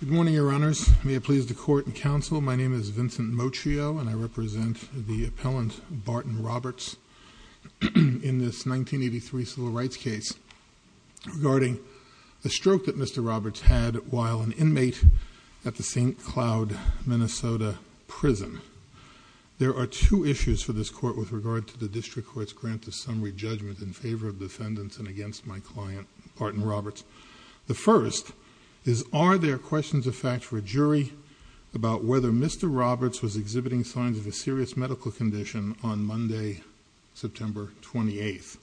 Good morning, Your Honors. May it please the Court and Counsel, my name is Vincent Mocchio and I represent the appellant Barton Roberts in this 1983 civil rights case regarding the stroke that Mr. Roberts had while an inmate at the St. Cloud, Minnesota prison. There are two issues for this court with regard to the District Court's grant of summary judgment in favor of defendants and against my client Barton Roberts. The first is are there questions of fact for a jury about whether Mr. Roberts was exhibiting signs of a serious medical condition on Monday, September 28th?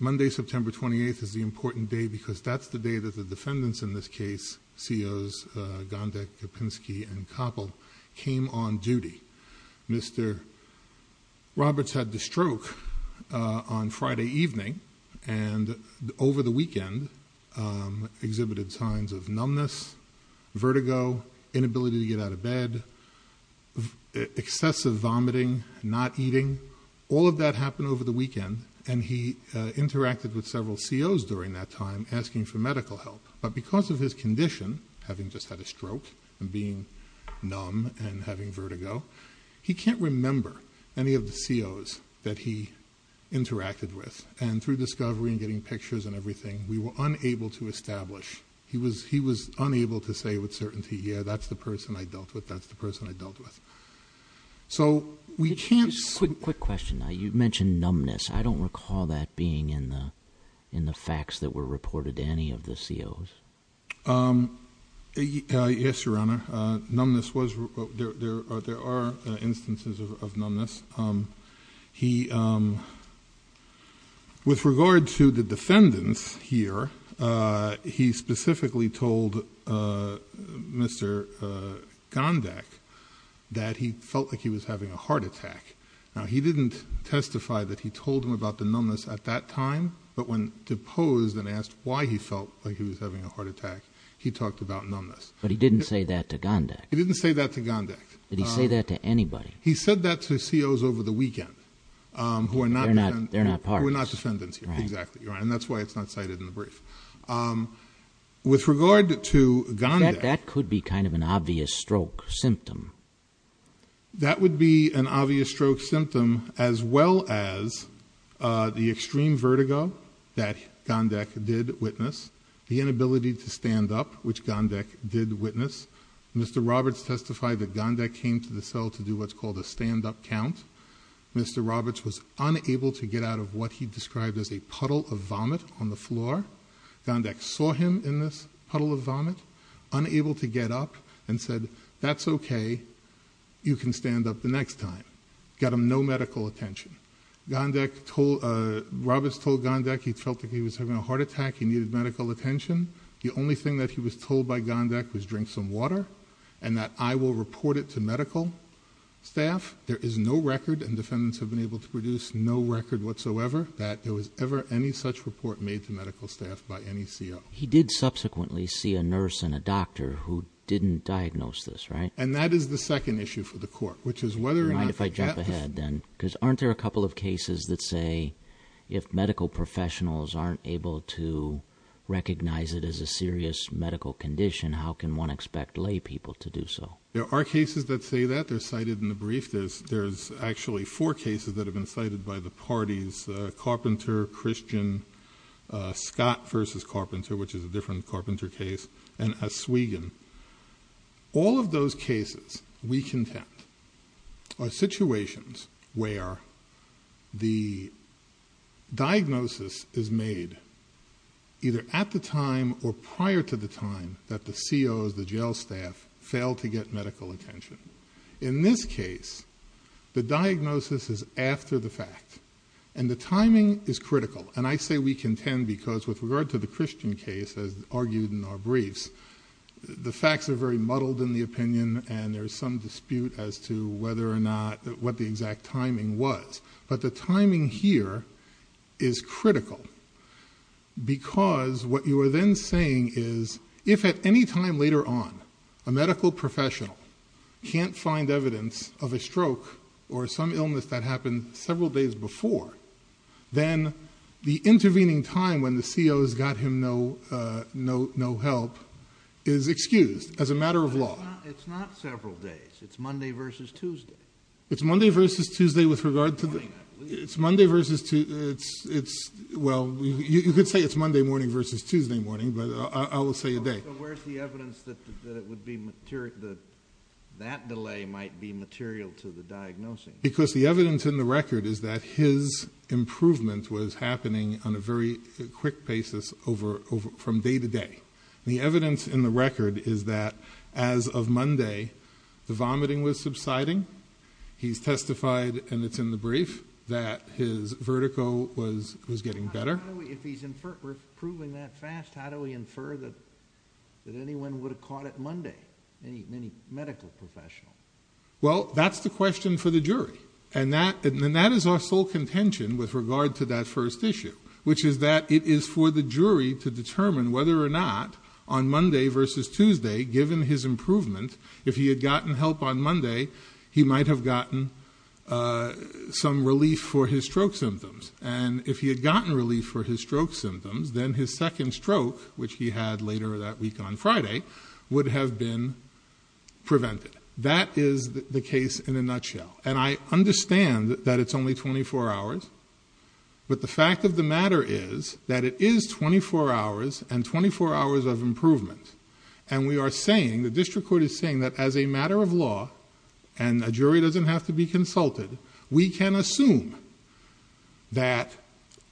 Monday, September 28th is the important day because that's the day that the defendants in this case, COs Gondek, Kopinski, and Kopel came on duty. Mr. Roberts had the stroke on Friday evening and over the weekend exhibited signs of numbness, vertigo, inability to get out of bed, excessive vomiting, not eating. All of that happened over the weekend and he interacted with several COs during that time asking for medical help but because of his condition, having just had a stroke and being numb and having vertigo, he can't remember any of the COs that he interacted with and through discovery and getting pictures and everything we were unable to establish. He was unable to say with certainty, yeah that's the person I dealt with, that's the person I dealt with. So we can't... Quick question. You mentioned numbness. I don't recall that being in the in the facts that were reported to any of the COs. Yes, Your Honor. Numbness was, there are instances of numbness. He, with regard to the defendants here, he specifically told Mr. Gondek that he felt like he was having a heart attack. Now he didn't testify that he told him about the numbness at that time but when deposed and asked why he felt like he was having a heart attack, he talked about numbness. But he didn't say that to Gondek. He didn't say that to Gondek. Did he say that to anybody? He said that to COs over the weekend who are not... They're not part of this. Who are not defendants here. Exactly. And that's why it's not cited in the brief. With regard to Gondek... That could be kind of an obvious stroke symptom. That would be an obvious stroke symptom as well as the extreme vertigo that Gondek did witness. The inability to stand up, which Gondek did witness. Mr. Roberts testified that Gondek came to the cell to do what's called a stand-up count. Mr. Roberts was unable to get out of what he described as a puddle of vomit on the floor. Gondek saw him in this puddle of vomit, unable to get up and said, that's okay, you can stand up the no medical attention. Gondek told... Roberts told Gondek he felt like he was having a heart attack, he needed medical attention. The only thing that he was told by Gondek was drink some water and that I will report it to medical staff. There is no record and defendants have been able to produce no record whatsoever that there was ever any such report made to medical staff by any CO. He did subsequently see a nurse and a doctor who didn't diagnose this, right? And that is the second issue for the court, which is whether... Mind if I jump ahead then? Because aren't there a couple of cases that say if medical professionals aren't able to recognize it as a serious medical condition, how can one expect lay people to do so? There are cases that say that. They're cited in the brief. There's actually four cases that have been cited by the parties. Carpenter, Christian, Scott v. Carpenter, which is a different Carpenter case, and all of those cases, we contend, are situations where the diagnosis is made either at the time or prior to the time that the COs, the jail staff, fail to get medical attention. In this case, the diagnosis is after the fact and the timing is critical and I say we contend because with regard to the Christian case, as argued in our briefs, the facts are very muddled in the opinion and there's some dispute as to whether or not, what the exact timing was, but the timing here is critical because what you are then saying is if at any time later on a medical professional can't find evidence of a stroke or some illness that happened several days before, then the intervening time when the COs got him no help is excused as a matter of law. It's not several days. It's Monday v. Tuesday. It's Monday v. Tuesday with regard to the... It's Monday morning, I believe. It's Monday v. Tuesday. Well, you could say it's Monday morning v. Tuesday morning, but I will say a day. So where's the evidence that that delay might be material to the diagnosis? Because the evidence in the record is that his improvement was happening on a very quick basis from day to day. The evidence in the record is that as of Monday, the vomiting was subsiding. He's testified, and it's in the brief, that his vertigo was getting better. If he's improving that fast, how do we infer that anyone would have caught it Monday, any medical professional? Well, that's the question for the jury, and that is our sole contention with regard to that first issue, which is that it is for the jury to determine whether or not on Monday v. Tuesday, given his improvement, if he had gotten help on Monday, he might have gotten some relief for his stroke symptoms. And if he had gotten relief for his stroke symptoms, then his second stroke, which he had later that week on Friday, would have been prevented. That is the case in a nutshell. And I understand that it's only 24 hours, but the fact of the matter is that it is 24 hours and 24 hours of improvement. And we are saying, the district court is saying that as a matter of law, and a jury doesn't have to be consulted, we can assume that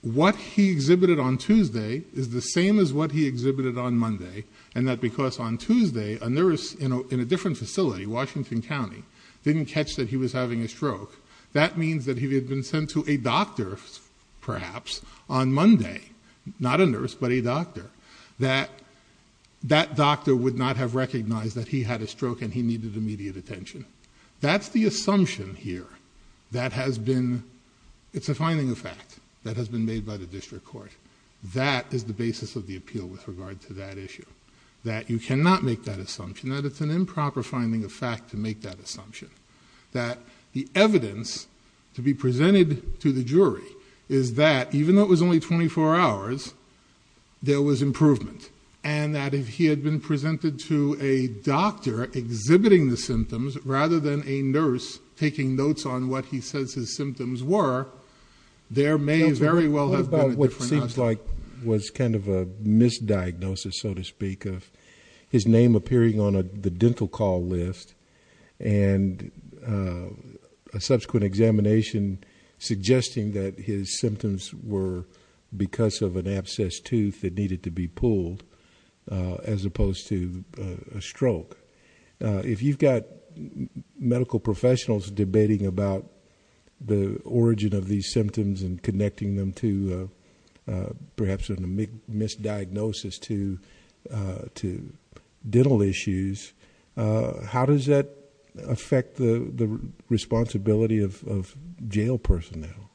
what he exhibited on Tuesday is the same as what he exhibited on Monday, and that because on Tuesday, a nurse in a different facility, Washington County, didn't catch that he was having a stroke, that means that he had been sent to a doctor, perhaps, on Monday, not a nurse, but a doctor, that that doctor would not have recognized that he had a stroke and he needed immediate attention. That's the assumption here that has been, it's a finding of fact that has been made by the district court. That is the basis of the appeal with regard to that issue, that you cannot make that assumption, that it's an improper finding of fact to make that the evidence to be presented to the jury is that even though it was only 24 hours, there was improvement, and that if he had been presented to a doctor exhibiting the symptoms rather than a nurse taking notes on what he says his symptoms were, there may very well have been a different outcome. What about what seems like was kind of a misdiagnosis, so to speak, of his name appearing on the dental call list and a subsequent examination suggesting that his symptoms were because of an abscessed tooth that needed to be pulled as opposed to a stroke? If you've got medical professionals debating about the origin of these dental issues, how does that affect the responsibility of jail personnel?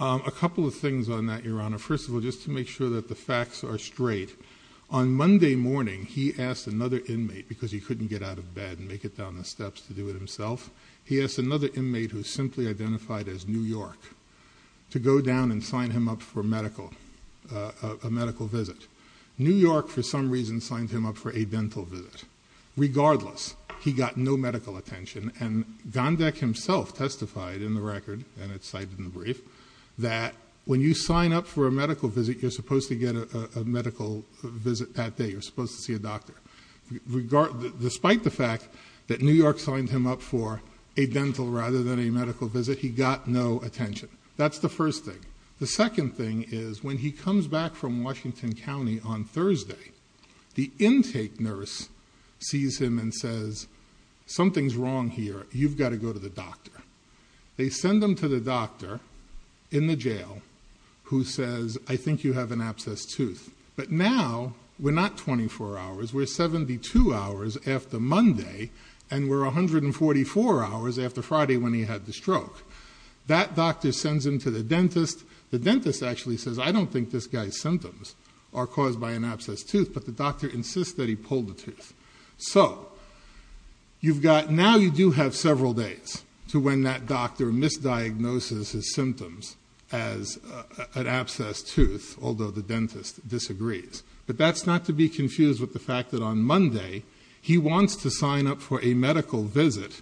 A couple of things on that, Your Honor. First of all, just to make sure that the facts are straight, on Monday morning he asked another inmate, because he couldn't get out of bed and make it down the steps to do it himself, he asked another inmate who is simply identified as New York to go down and sign him up for medical, a medical visit. New York, for some reason, signed him up for a dental visit. Regardless, he got no medical attention, and Gondek himself testified in the record, and it's cited in the brief, that when you sign up for a medical visit, you're supposed to get a medical visit that day. You're supposed to see a doctor. Despite the fact that New York signed him up for a dental rather than a medical visit, he got no attention. That's the first thing. The second thing is when he comes back from Washington County on Thursday, the intake nurse sees him and says, something's wrong here. You've got to go to the doctor. They send him to the doctor in the jail who says, I think you have an abscessed tooth, but now we're not 24 hours, we're 72 hours after Monday, and we're 144 hours after Friday when he had the stroke. That doctor sends him to the dentist. The dentist actually says, I don't think this guy's symptoms are caused by an abscessed tooth, but the doctor insists that he pull the tooth. So now you do have several days to when that doctor misdiagnoses his symptoms as an abscessed tooth, although the dentist disagrees. But that's not to be confused with the fact that on Monday, he wants to sign up for a medical visit.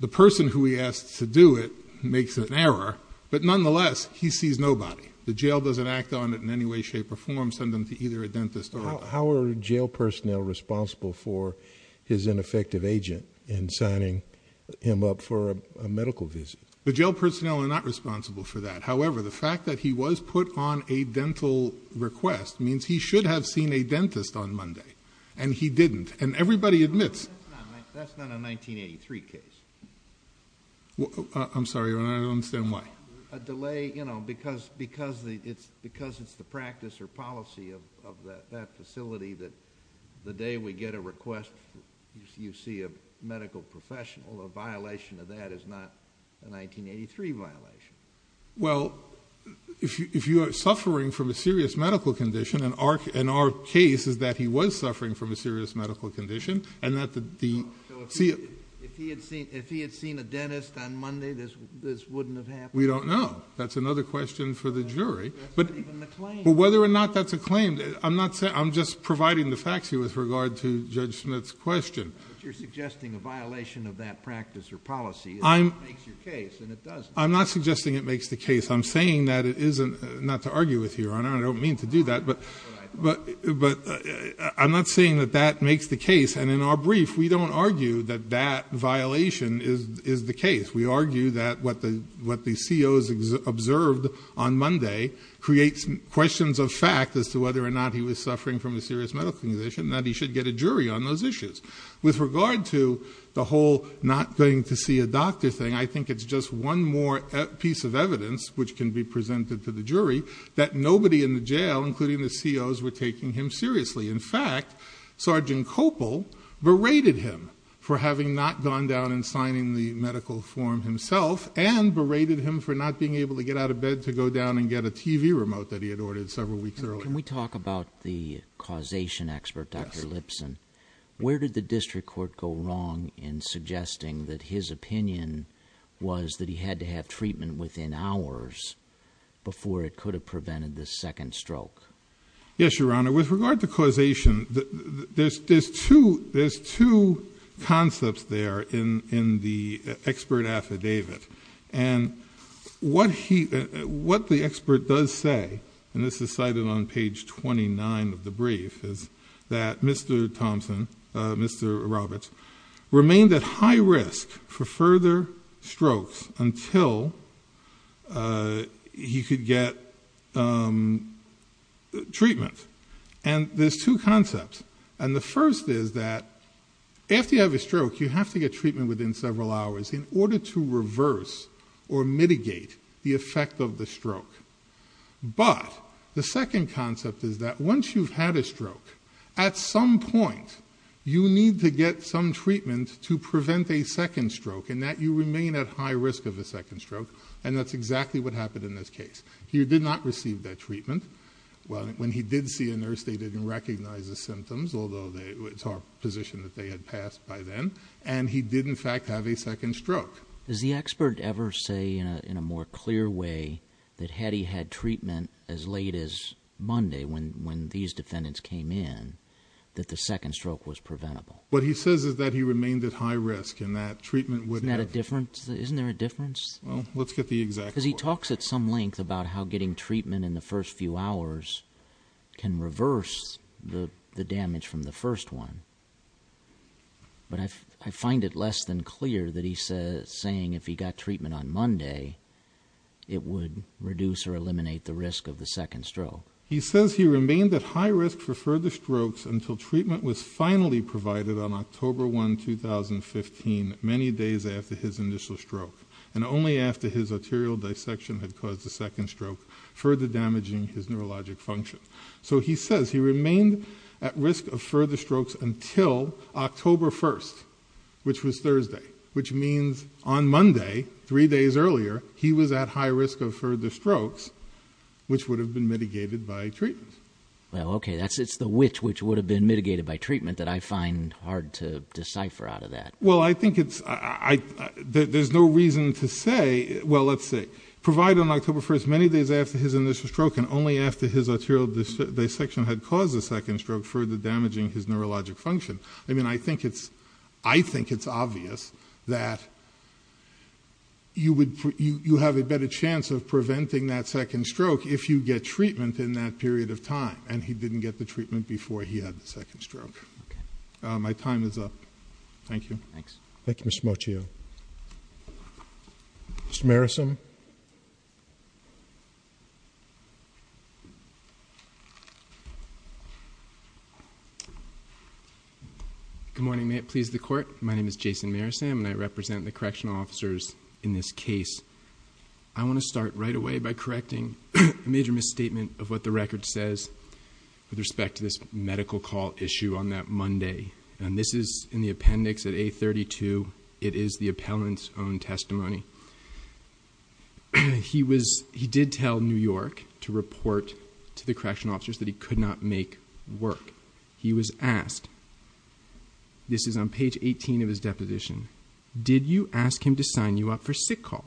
The person who he asks to do it makes an error, but nonetheless, he sees nobody. The jail doesn't act on it in any way, shape, or form, send them to either a dentist or a doctor. How are jail personnel responsible for his ineffective agent in signing him up for a medical visit? The jail personnel are not responsible for that. However, the fact that he was put on a dental request means he should have seen a dentist on Monday, and he didn't, and everybody admits. That's not a 1983 case. I'm sorry, I don't understand why. A delay, you know, because it's the practice or policy of that facility that the day we get a request, you see a medical professional. A violation of that is not a 1983 violation. Well, if you are suffering from a serious medical condition, and our case is that he was suffering from a serious medical condition, and that the If he had seen a dentist on Monday, this wouldn't have happened? We don't know. That's another question for the jury. That's not even the claim. But whether or not that's a claim, I'm just providing the facts here with regard to Judge Schmidt's question. But you're suggesting a violation of that practice or policy. It makes your case, and it doesn't. I'm not suggesting it makes the case. I'm saying that it isn't, not to argue with you, Your Honor. I don't mean to do that. But I'm not saying that that makes the case. And in our brief, we don't argue that that violation is the case. We argue that what the COs observed on Monday creates questions of fact as to whether or not he was suffering from a serious medical condition, and that he should get a jury on those issues. With regard to the whole not going to see a doctor thing, I think it's just one more piece of evidence, which can be presented to the jury, that nobody in the jail, including the COs, were taking him seriously. In fact, Sergeant Copel berated him for having not gone down and signing the medical form himself, and berated him for not being able to get out of bed to go down and get a TV remote that he had ordered several weeks earlier. Can we talk about the causation expert, Dr. Lipson? Where did the district court go wrong in suggesting that his opinion was that he had to have treatment within hours before it could have prevented this second stroke? Yes, Your Honor. With regard to causation, there's two concepts there in the expert affidavit. And what the expert does say, and this is cited on page 29 of the brief, is that Mr. Thompson, Mr. Roberts, remained at high risk for further strokes until he could get treatment. And there's two concepts. And the first is that after you have a stroke, you have to get treatment within several hours But the second concept is that once you've had a stroke, at some point you need to get some treatment to prevent a second stroke, and that you remain at high risk of a second stroke, and that's exactly what happened in this case. He did not receive that treatment. When he did see a nurse, they didn't recognize the symptoms, although it's our position that they had passed by then, and he did, in fact, have a second stroke. Does the expert ever say in a more clear way that had he had treatment as late as Monday when these defendants came in, that the second stroke was preventable? What he says is that he remained at high risk and that treatment would have... Isn't that a difference? Isn't there a difference? Well, let's get the exact... Because he talks at some length about how getting treatment in the first few hours can reverse the damage from the first one. But I find it less than clear that he's saying if he got treatment on Monday, it would reduce or eliminate the risk of the second stroke. He says he remained at high risk for further strokes until treatment was finally provided on October 1, 2015, many days after his initial stroke, and only after his arterial dissection had caused the second stroke, further damaging his neurologic function. So he says he remained at risk of further strokes until October 1, which was Thursday, which means on Monday, three days earlier, he was at high risk of further strokes, which would have been mitigated by treatment. Well, okay. It's the which which would have been mitigated by treatment that I find hard to decipher out of that. Well, I think it's... There's no reason to say... Well, let's see. Provided on October 1, many days after his initial stroke and only after his arterial dissection had caused the second stroke, further damaging his neurologic function. I mean, I think it's obvious that you have a better chance of preventing that second stroke if you get treatment in that period of time, and he didn't get the treatment before he had the second stroke. Okay. My time is up. Thank you. Thanks. Thank you, Mr. Mocio. Mr. Marisam? Good morning. May it please the Court? My name is Jason Marisam, and I represent the correctional officers in this case. I want to start right away by correcting a major misstatement of what the record says with respect to this medical call issue on that Monday. And this is in the appendix at A32. It is the appellant's own testimony. He did tell New York to report to the correctional officers that he could not make work. He was asked, this is on page 18 of his deposition, did you ask him to sign you up for sick call?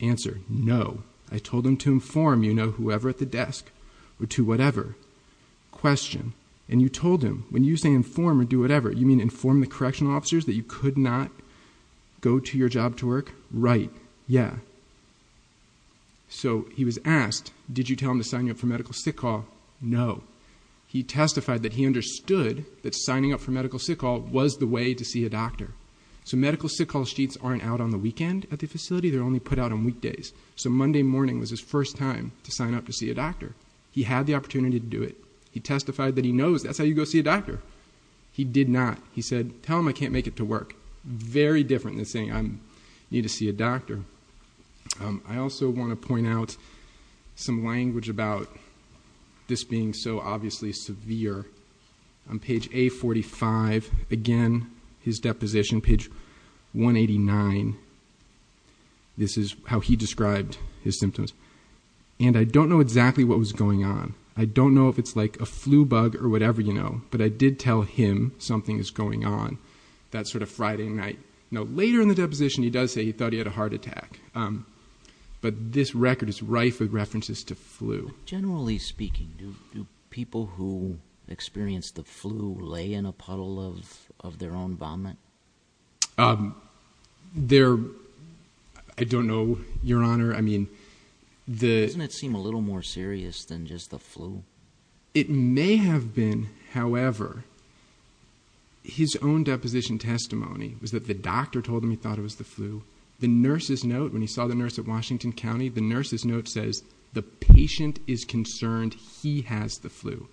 Answer, no. I told him to inform, you know, whoever at the desk or to whatever. Question. And you told him, when you say inform or do whatever, you mean inform the correctional officers that you could not go to your job to work? Right. Yeah. So he was asked, did you tell him to sign you up for medical sick call? No. He testified that he understood that signing up for medical sick call was the way to see a doctor. So medical sick call sheets aren't out on the weekend at the facility. They're only put out on weekdays. So Monday morning was his first time to sign up to see a doctor. He had the opportunity to do it. He testified that he knows that's how you go see a doctor. He did not. He said, tell him I can't make it to work. Very different than saying I need to see a doctor. I also want to point out some language about this being so obviously severe. On page A45, again, his deposition, page 189, this is how he described his symptoms. And I don't know exactly what was going on. I don't know if it's like a flu bug or whatever, you know. But I did tell him something was going on that sort of Friday night. Now, later in the deposition he does say he thought he had a heart attack. But this record is rife with references to flu. Generally speaking, do people who experience the flu lay in a puddle of their own vomit? I don't know, Your Honor. Doesn't it seem a little more serious than just the flu? It may have been, however. His own deposition testimony was that the doctor told him he thought it was the flu. The nurse's note, when he saw the nurse at Washington County, the nurse's note says, the patient is concerned he has the flu.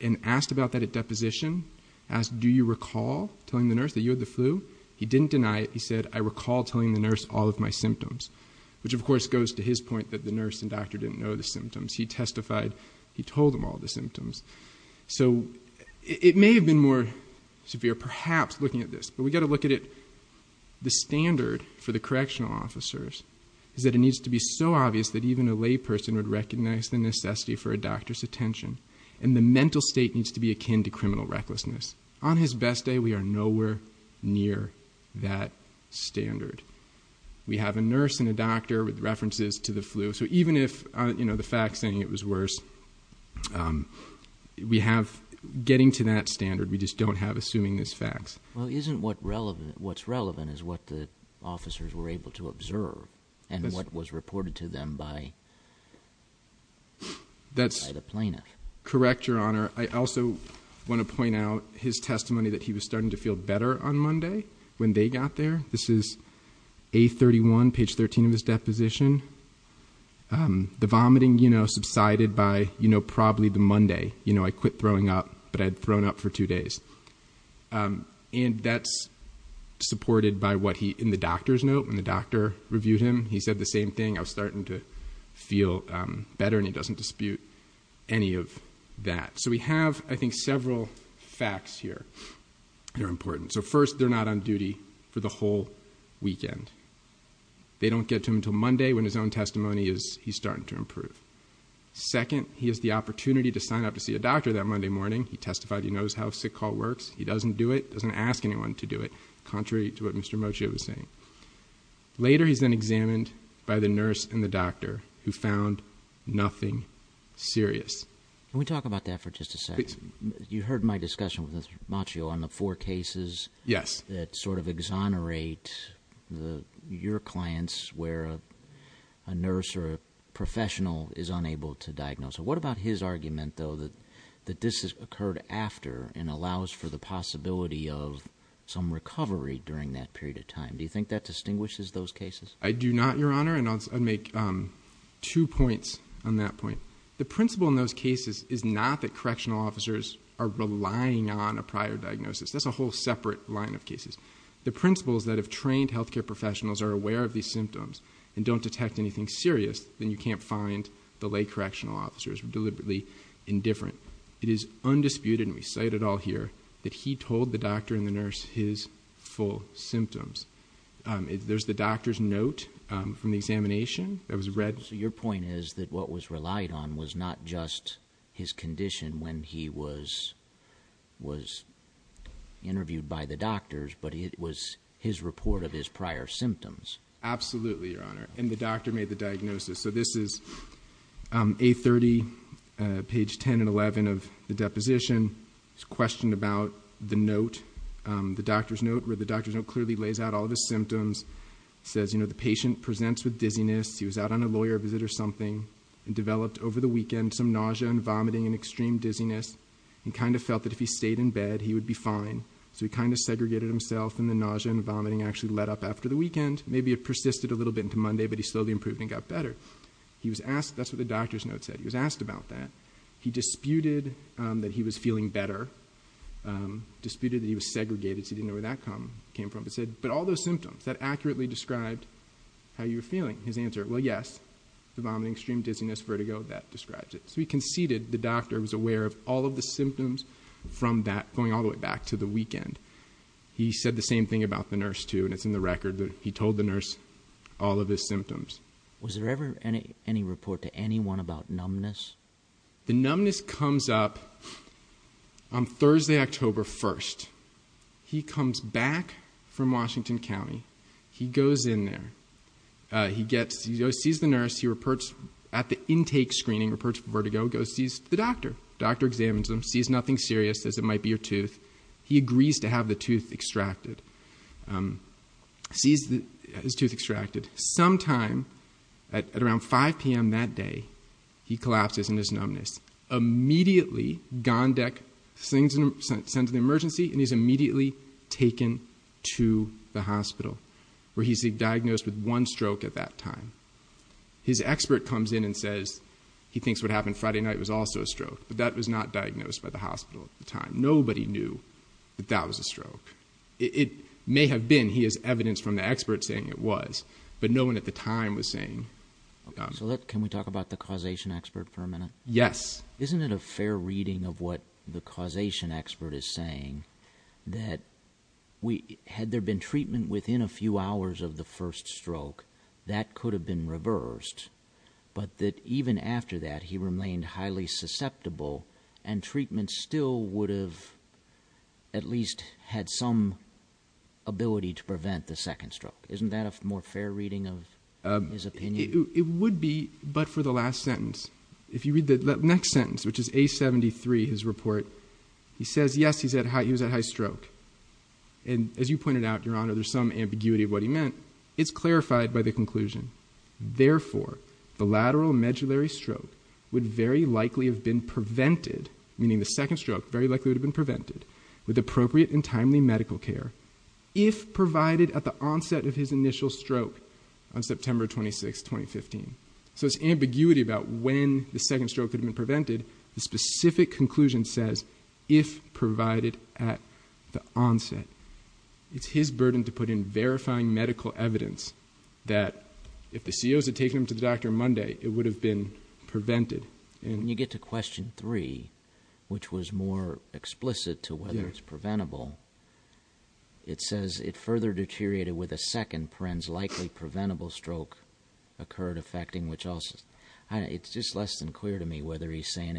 And asked about that at deposition, asked do you recall telling the nurse that you had the flu? He didn't deny it. He said, I recall telling the nurse all of my symptoms. Which, of course, goes to his point that the nurse and doctor didn't know the symptoms. He testified he told them all the symptoms. So it may have been more severe, perhaps, looking at this. But we've got to look at it. The standard for the correctional officers is that it needs to be so obvious that even a lay person would recognize the necessity for a doctor's attention. And the mental state needs to be akin to criminal recklessness. On his best day, we are nowhere near that standard. We have a nurse and a doctor with references to the flu. So even if the fact is saying it was worse, we have getting to that standard. We just don't have assuming this facts. Well, isn't what's relevant is what the officers were able to observe and what was reported to them by the plaintiff? That's correct, Your Honor. I also want to point out his testimony that he was starting to feel better on Monday when they got there. This is A31, page 13 of his deposition. The vomiting, you know, subsided by, you know, probably the Monday. You know, I quit throwing up, but I had thrown up for two days. And that's supported by what he, in the doctor's note, when the doctor reviewed him, he said the same thing. I was starting to feel better, and he doesn't dispute any of that. So we have, I think, several facts here that are important. So first, they're not on duty for the whole weekend. They don't get to him until Monday when his own testimony is he's starting to improve. Second, he has the opportunity to sign up to see a doctor that Monday morning. He testified he knows how a sick call works. He doesn't do it, doesn't ask anyone to do it, contrary to what Mr. Moccia was saying. Later, he's then examined by the nurse and the doctor, who found nothing serious. Can we talk about that for just a second? You heard my discussion with Mr. Moccia on the four cases. Yes. That sort of exonerate your clients where a nurse or a professional is unable to diagnose. What about his argument, though, that this has occurred after Do you think that distinguishes those cases? I do not, Your Honor, and I'll make two points on that point. The principle in those cases is not that correctional officers are relying on a prior diagnosis. That's a whole separate line of cases. The principle is that if trained health care professionals are aware of these symptoms and don't detect anything serious, then you can't find the lay correctional officers deliberately indifferent. It is undisputed, and we cite it all here, that he told the doctor and the nurse his full symptoms. There's the doctor's note from the examination that was read. So your point is that what was relied on was not just his condition when he was interviewed by the doctors, but it was his report of his prior symptoms. Absolutely, Your Honor, and the doctor made the diagnosis. So this is A30, page 10 and 11 of the deposition. It's a question about the note, the doctor's note, where the doctor's note clearly lays out all of his symptoms. It says, you know, the patient presents with dizziness. He was out on a lawyer visit or something and developed over the weekend some nausea and vomiting and extreme dizziness. He kind of felt that if he stayed in bed, he would be fine. So he kind of segregated himself, and the nausea and vomiting actually let up after the weekend. Maybe it persisted a little bit into Monday, but he slowly improved and got better. That's what the doctor's note said. He was asked about that. He disputed that he was feeling better, disputed that he was segregated, so he didn't know where that came from, but said, but all those symptoms, that accurately described how you were feeling. His answer, well, yes, the vomiting, extreme dizziness, vertigo, that describes it. So he conceded the doctor was aware of all of the symptoms from that going all the way back to the weekend. He said the same thing about the nurse, too, and it's in the record. He told the nurse all of his symptoms. Was there ever any report to anyone about numbness? The numbness comes up on Thursday, October 1st. He comes back from Washington County. He goes in there. He goes and sees the nurse. He reports at the intake screening, reports vertigo, goes and sees the doctor. The doctor examines him, sees nothing serious, says it might be your tooth. He agrees to have the tooth extracted, sees his tooth extracted. Sometime at around 5 p.m. that day, he collapses in his numbness. Immediately, Gondek sends an emergency, and he's immediately taken to the hospital, where he's diagnosed with one stroke at that time. His expert comes in and says he thinks what happened Friday night was also a stroke, but nobody knew that that was a stroke. It may have been. He has evidence from the expert saying it was, but no one at the time was saying. Can we talk about the causation expert for a minute? Yes. Isn't it a fair reading of what the causation expert is saying, that had there been treatment within a few hours of the first stroke, that could have been reversed, but that even after that, he remained highly susceptible, and treatment still would have at least had some ability to prevent the second stroke? Isn't that a more fair reading of his opinion? It would be, but for the last sentence. If you read the next sentence, which is A73, his report, he says, yes, he was at high stroke. And as you pointed out, Your Honor, there's some ambiguity of what he meant. It's clarified by the conclusion. Therefore, the lateral medullary stroke would very likely have been prevented, meaning the second stroke very likely would have been prevented, with appropriate and timely medical care, if provided at the onset of his initial stroke on September 26, 2015. So it's ambiguity about when the second stroke could have been prevented. The specific conclusion says, if provided at the onset. It's his burden to put in verifying medical evidence that, if the COs had taken him to the doctor Monday, it would have been prevented. When you get to Question 3, which was more explicit to whether it's preventable, it says, it further deteriorated with a second, perhaps likely preventable stroke occurred affecting which also. It's just less than clear to me whether he's saying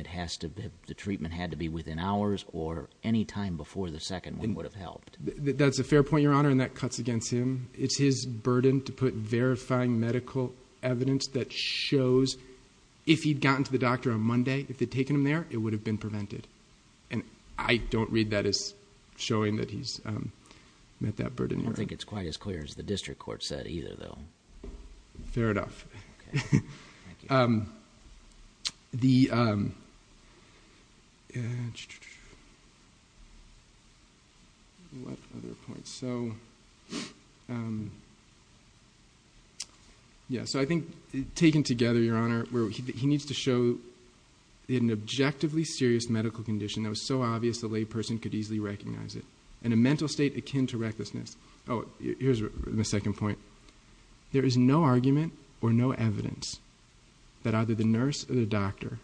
the treatment had to be within hours or any time before the second one would have helped. That's a fair point, Your Honor, and that cuts against him. It's his burden to put verifying medical evidence that shows, if he'd gotten to the doctor on Monday, if they'd taken him there, it would have been prevented. And I don't read that as showing that he's met that burden. I don't think it's quite as clear as the district court said either, though. Fair enough. Thank you. What other points? I think, taken together, Your Honor, he needs to show an objectively serious medical condition that was so obvious the layperson could easily recognize it, and a mental state akin to recklessness. Oh, here's my second point. There is no argument or no evidence that either the nurse or the doctor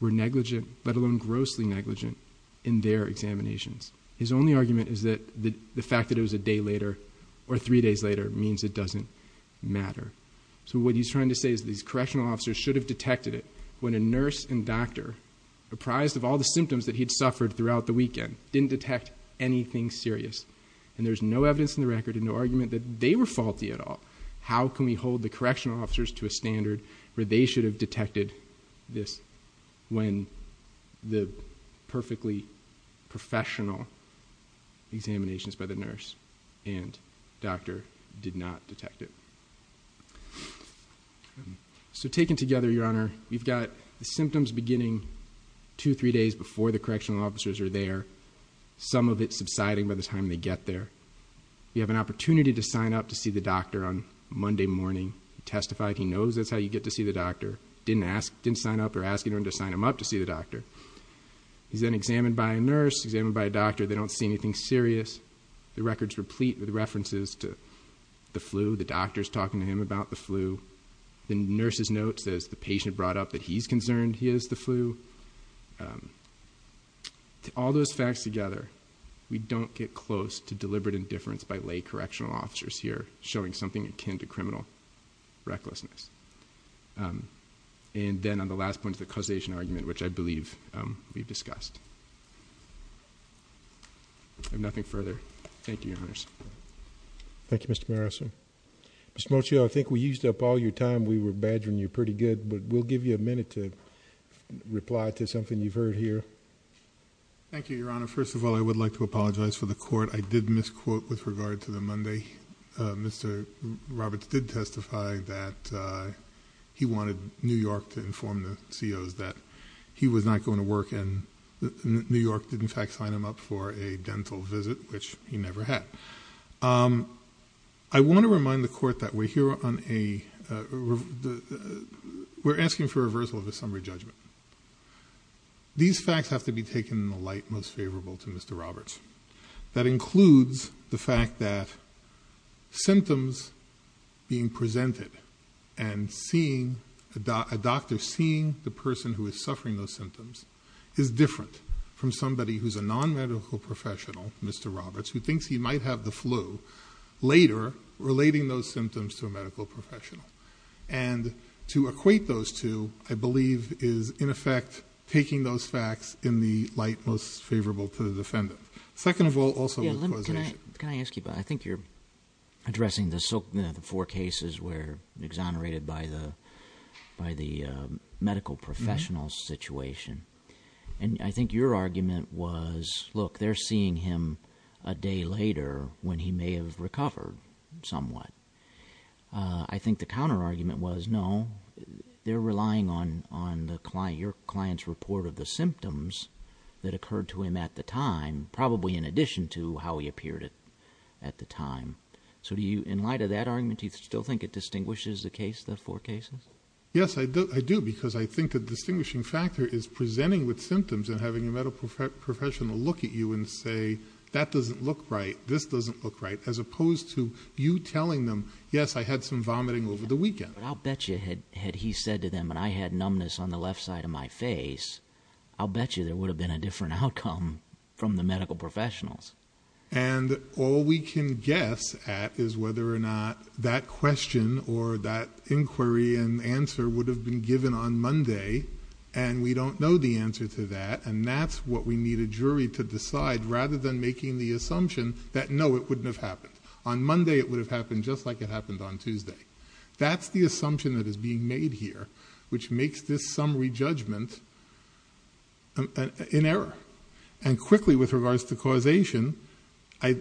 were negligent, let alone grossly negligent, in their examinations. His only argument is that the fact that it was a day later or three days later means it doesn't matter. So what he's trying to say is these correctional officers should have detected it when a nurse and doctor, apprised of all the symptoms that he'd suffered throughout the weekend, didn't detect anything serious. And there's no evidence in the record and no argument that they were faulty at all. How can we hold the correctional officers to a standard where they should have detected this when the perfectly professional examination is by the nurse and doctor did not detect it? So taken together, Your Honor, we've got the symptoms beginning two or three days before the correctional officers are there, some of it subsiding by the time they get there. You have an opportunity to sign up to see the doctor on Monday morning. He testified he knows that's how you get to see the doctor. Didn't sign up or ask anyone to sign him up to see the doctor. He's then examined by a nurse, examined by a doctor. They don't see anything serious. The record's replete with references to the flu, the doctors talking to him about the flu. All those facts together, we don't get close to deliberate indifference by lay correctional officers here showing something akin to criminal recklessness. And then on the last point, the causation argument, which I believe we've discussed. I have nothing further. Thank you, Your Honors. Thank you, Mr. Marison. Mr. Mocio, I think we used up all your time. We were badgering you pretty good, but we'll give you a minute to reply to something you've heard here. Thank you, Your Honor. First of all, I would like to apologize for the court. I did misquote with regard to the Monday. Mr. Roberts did testify that he wanted New York to inform the COs that he was not going to work, and New York did, in fact, sign him up for a dental visit, which he never had. I want to remind the court that we're asking for reversal of a summary judgment. These facts have to be taken in the light most favorable to Mr. Roberts. That includes the fact that symptoms being presented and a doctor seeing the person who is suffering those symptoms is different from somebody who's a non-medical professional, Mr. Roberts, who thinks he might have the flu, later relating those symptoms to a medical professional. And to equate those two, I believe, is, in effect, taking those facts in the light most favorable to the defendant. Second of all, also with causation. Can I ask you about it? I think you're addressing the four cases where exonerated by the medical professional situation. And I think your argument was, look, they're seeing him a day later when he may have recovered somewhat. I think the counterargument was, no, they're relying on your client's report of the symptoms that occurred to him at the time, probably in addition to how he appeared at the time. So in light of that argument, do you still think it distinguishes the four cases? Yes, I do, because I think the distinguishing factor is presenting with symptoms and having a medical professional look at you and say, that doesn't look right, this doesn't look right, as opposed to you telling them, yes, I had some vomiting over the weekend. But I'll bet you had he said to them, and I had numbness on the left side of my face, I'll bet you there would have been a different outcome from the medical professionals. And all we can guess at is whether or not that question or that inquiry and answer would have been given on Monday, and we don't know the answer to that, and that's what we need a jury to decide, rather than making the assumption that, no, it wouldn't have happened. On Monday it would have happened just like it happened on Tuesday. That's the assumption that is being made here, which makes this summary judgment an error. And quickly, with regards to causation, while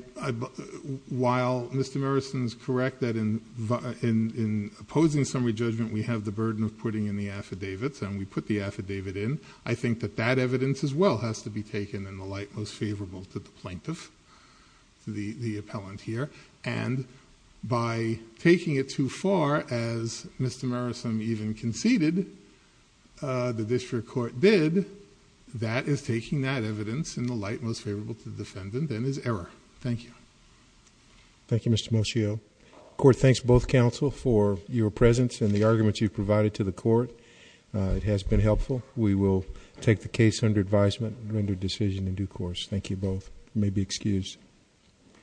Mr. Morrison is correct that in opposing summary judgment we have the burden of putting in the affidavits, and we put the affidavit in, I think that that evidence as well has to be taken in the light most favorable to the plaintiff, the appellant here. And by taking it too far, as Mr. Morrison even conceded the district court did, Thank you. Thank you, Mr. Moscio. Court, thanks both counsel for your presence and the arguments you provided to the court. It has been helpful. We will take the case under advisement and render a decision in due course. Thank you both. You may be excused.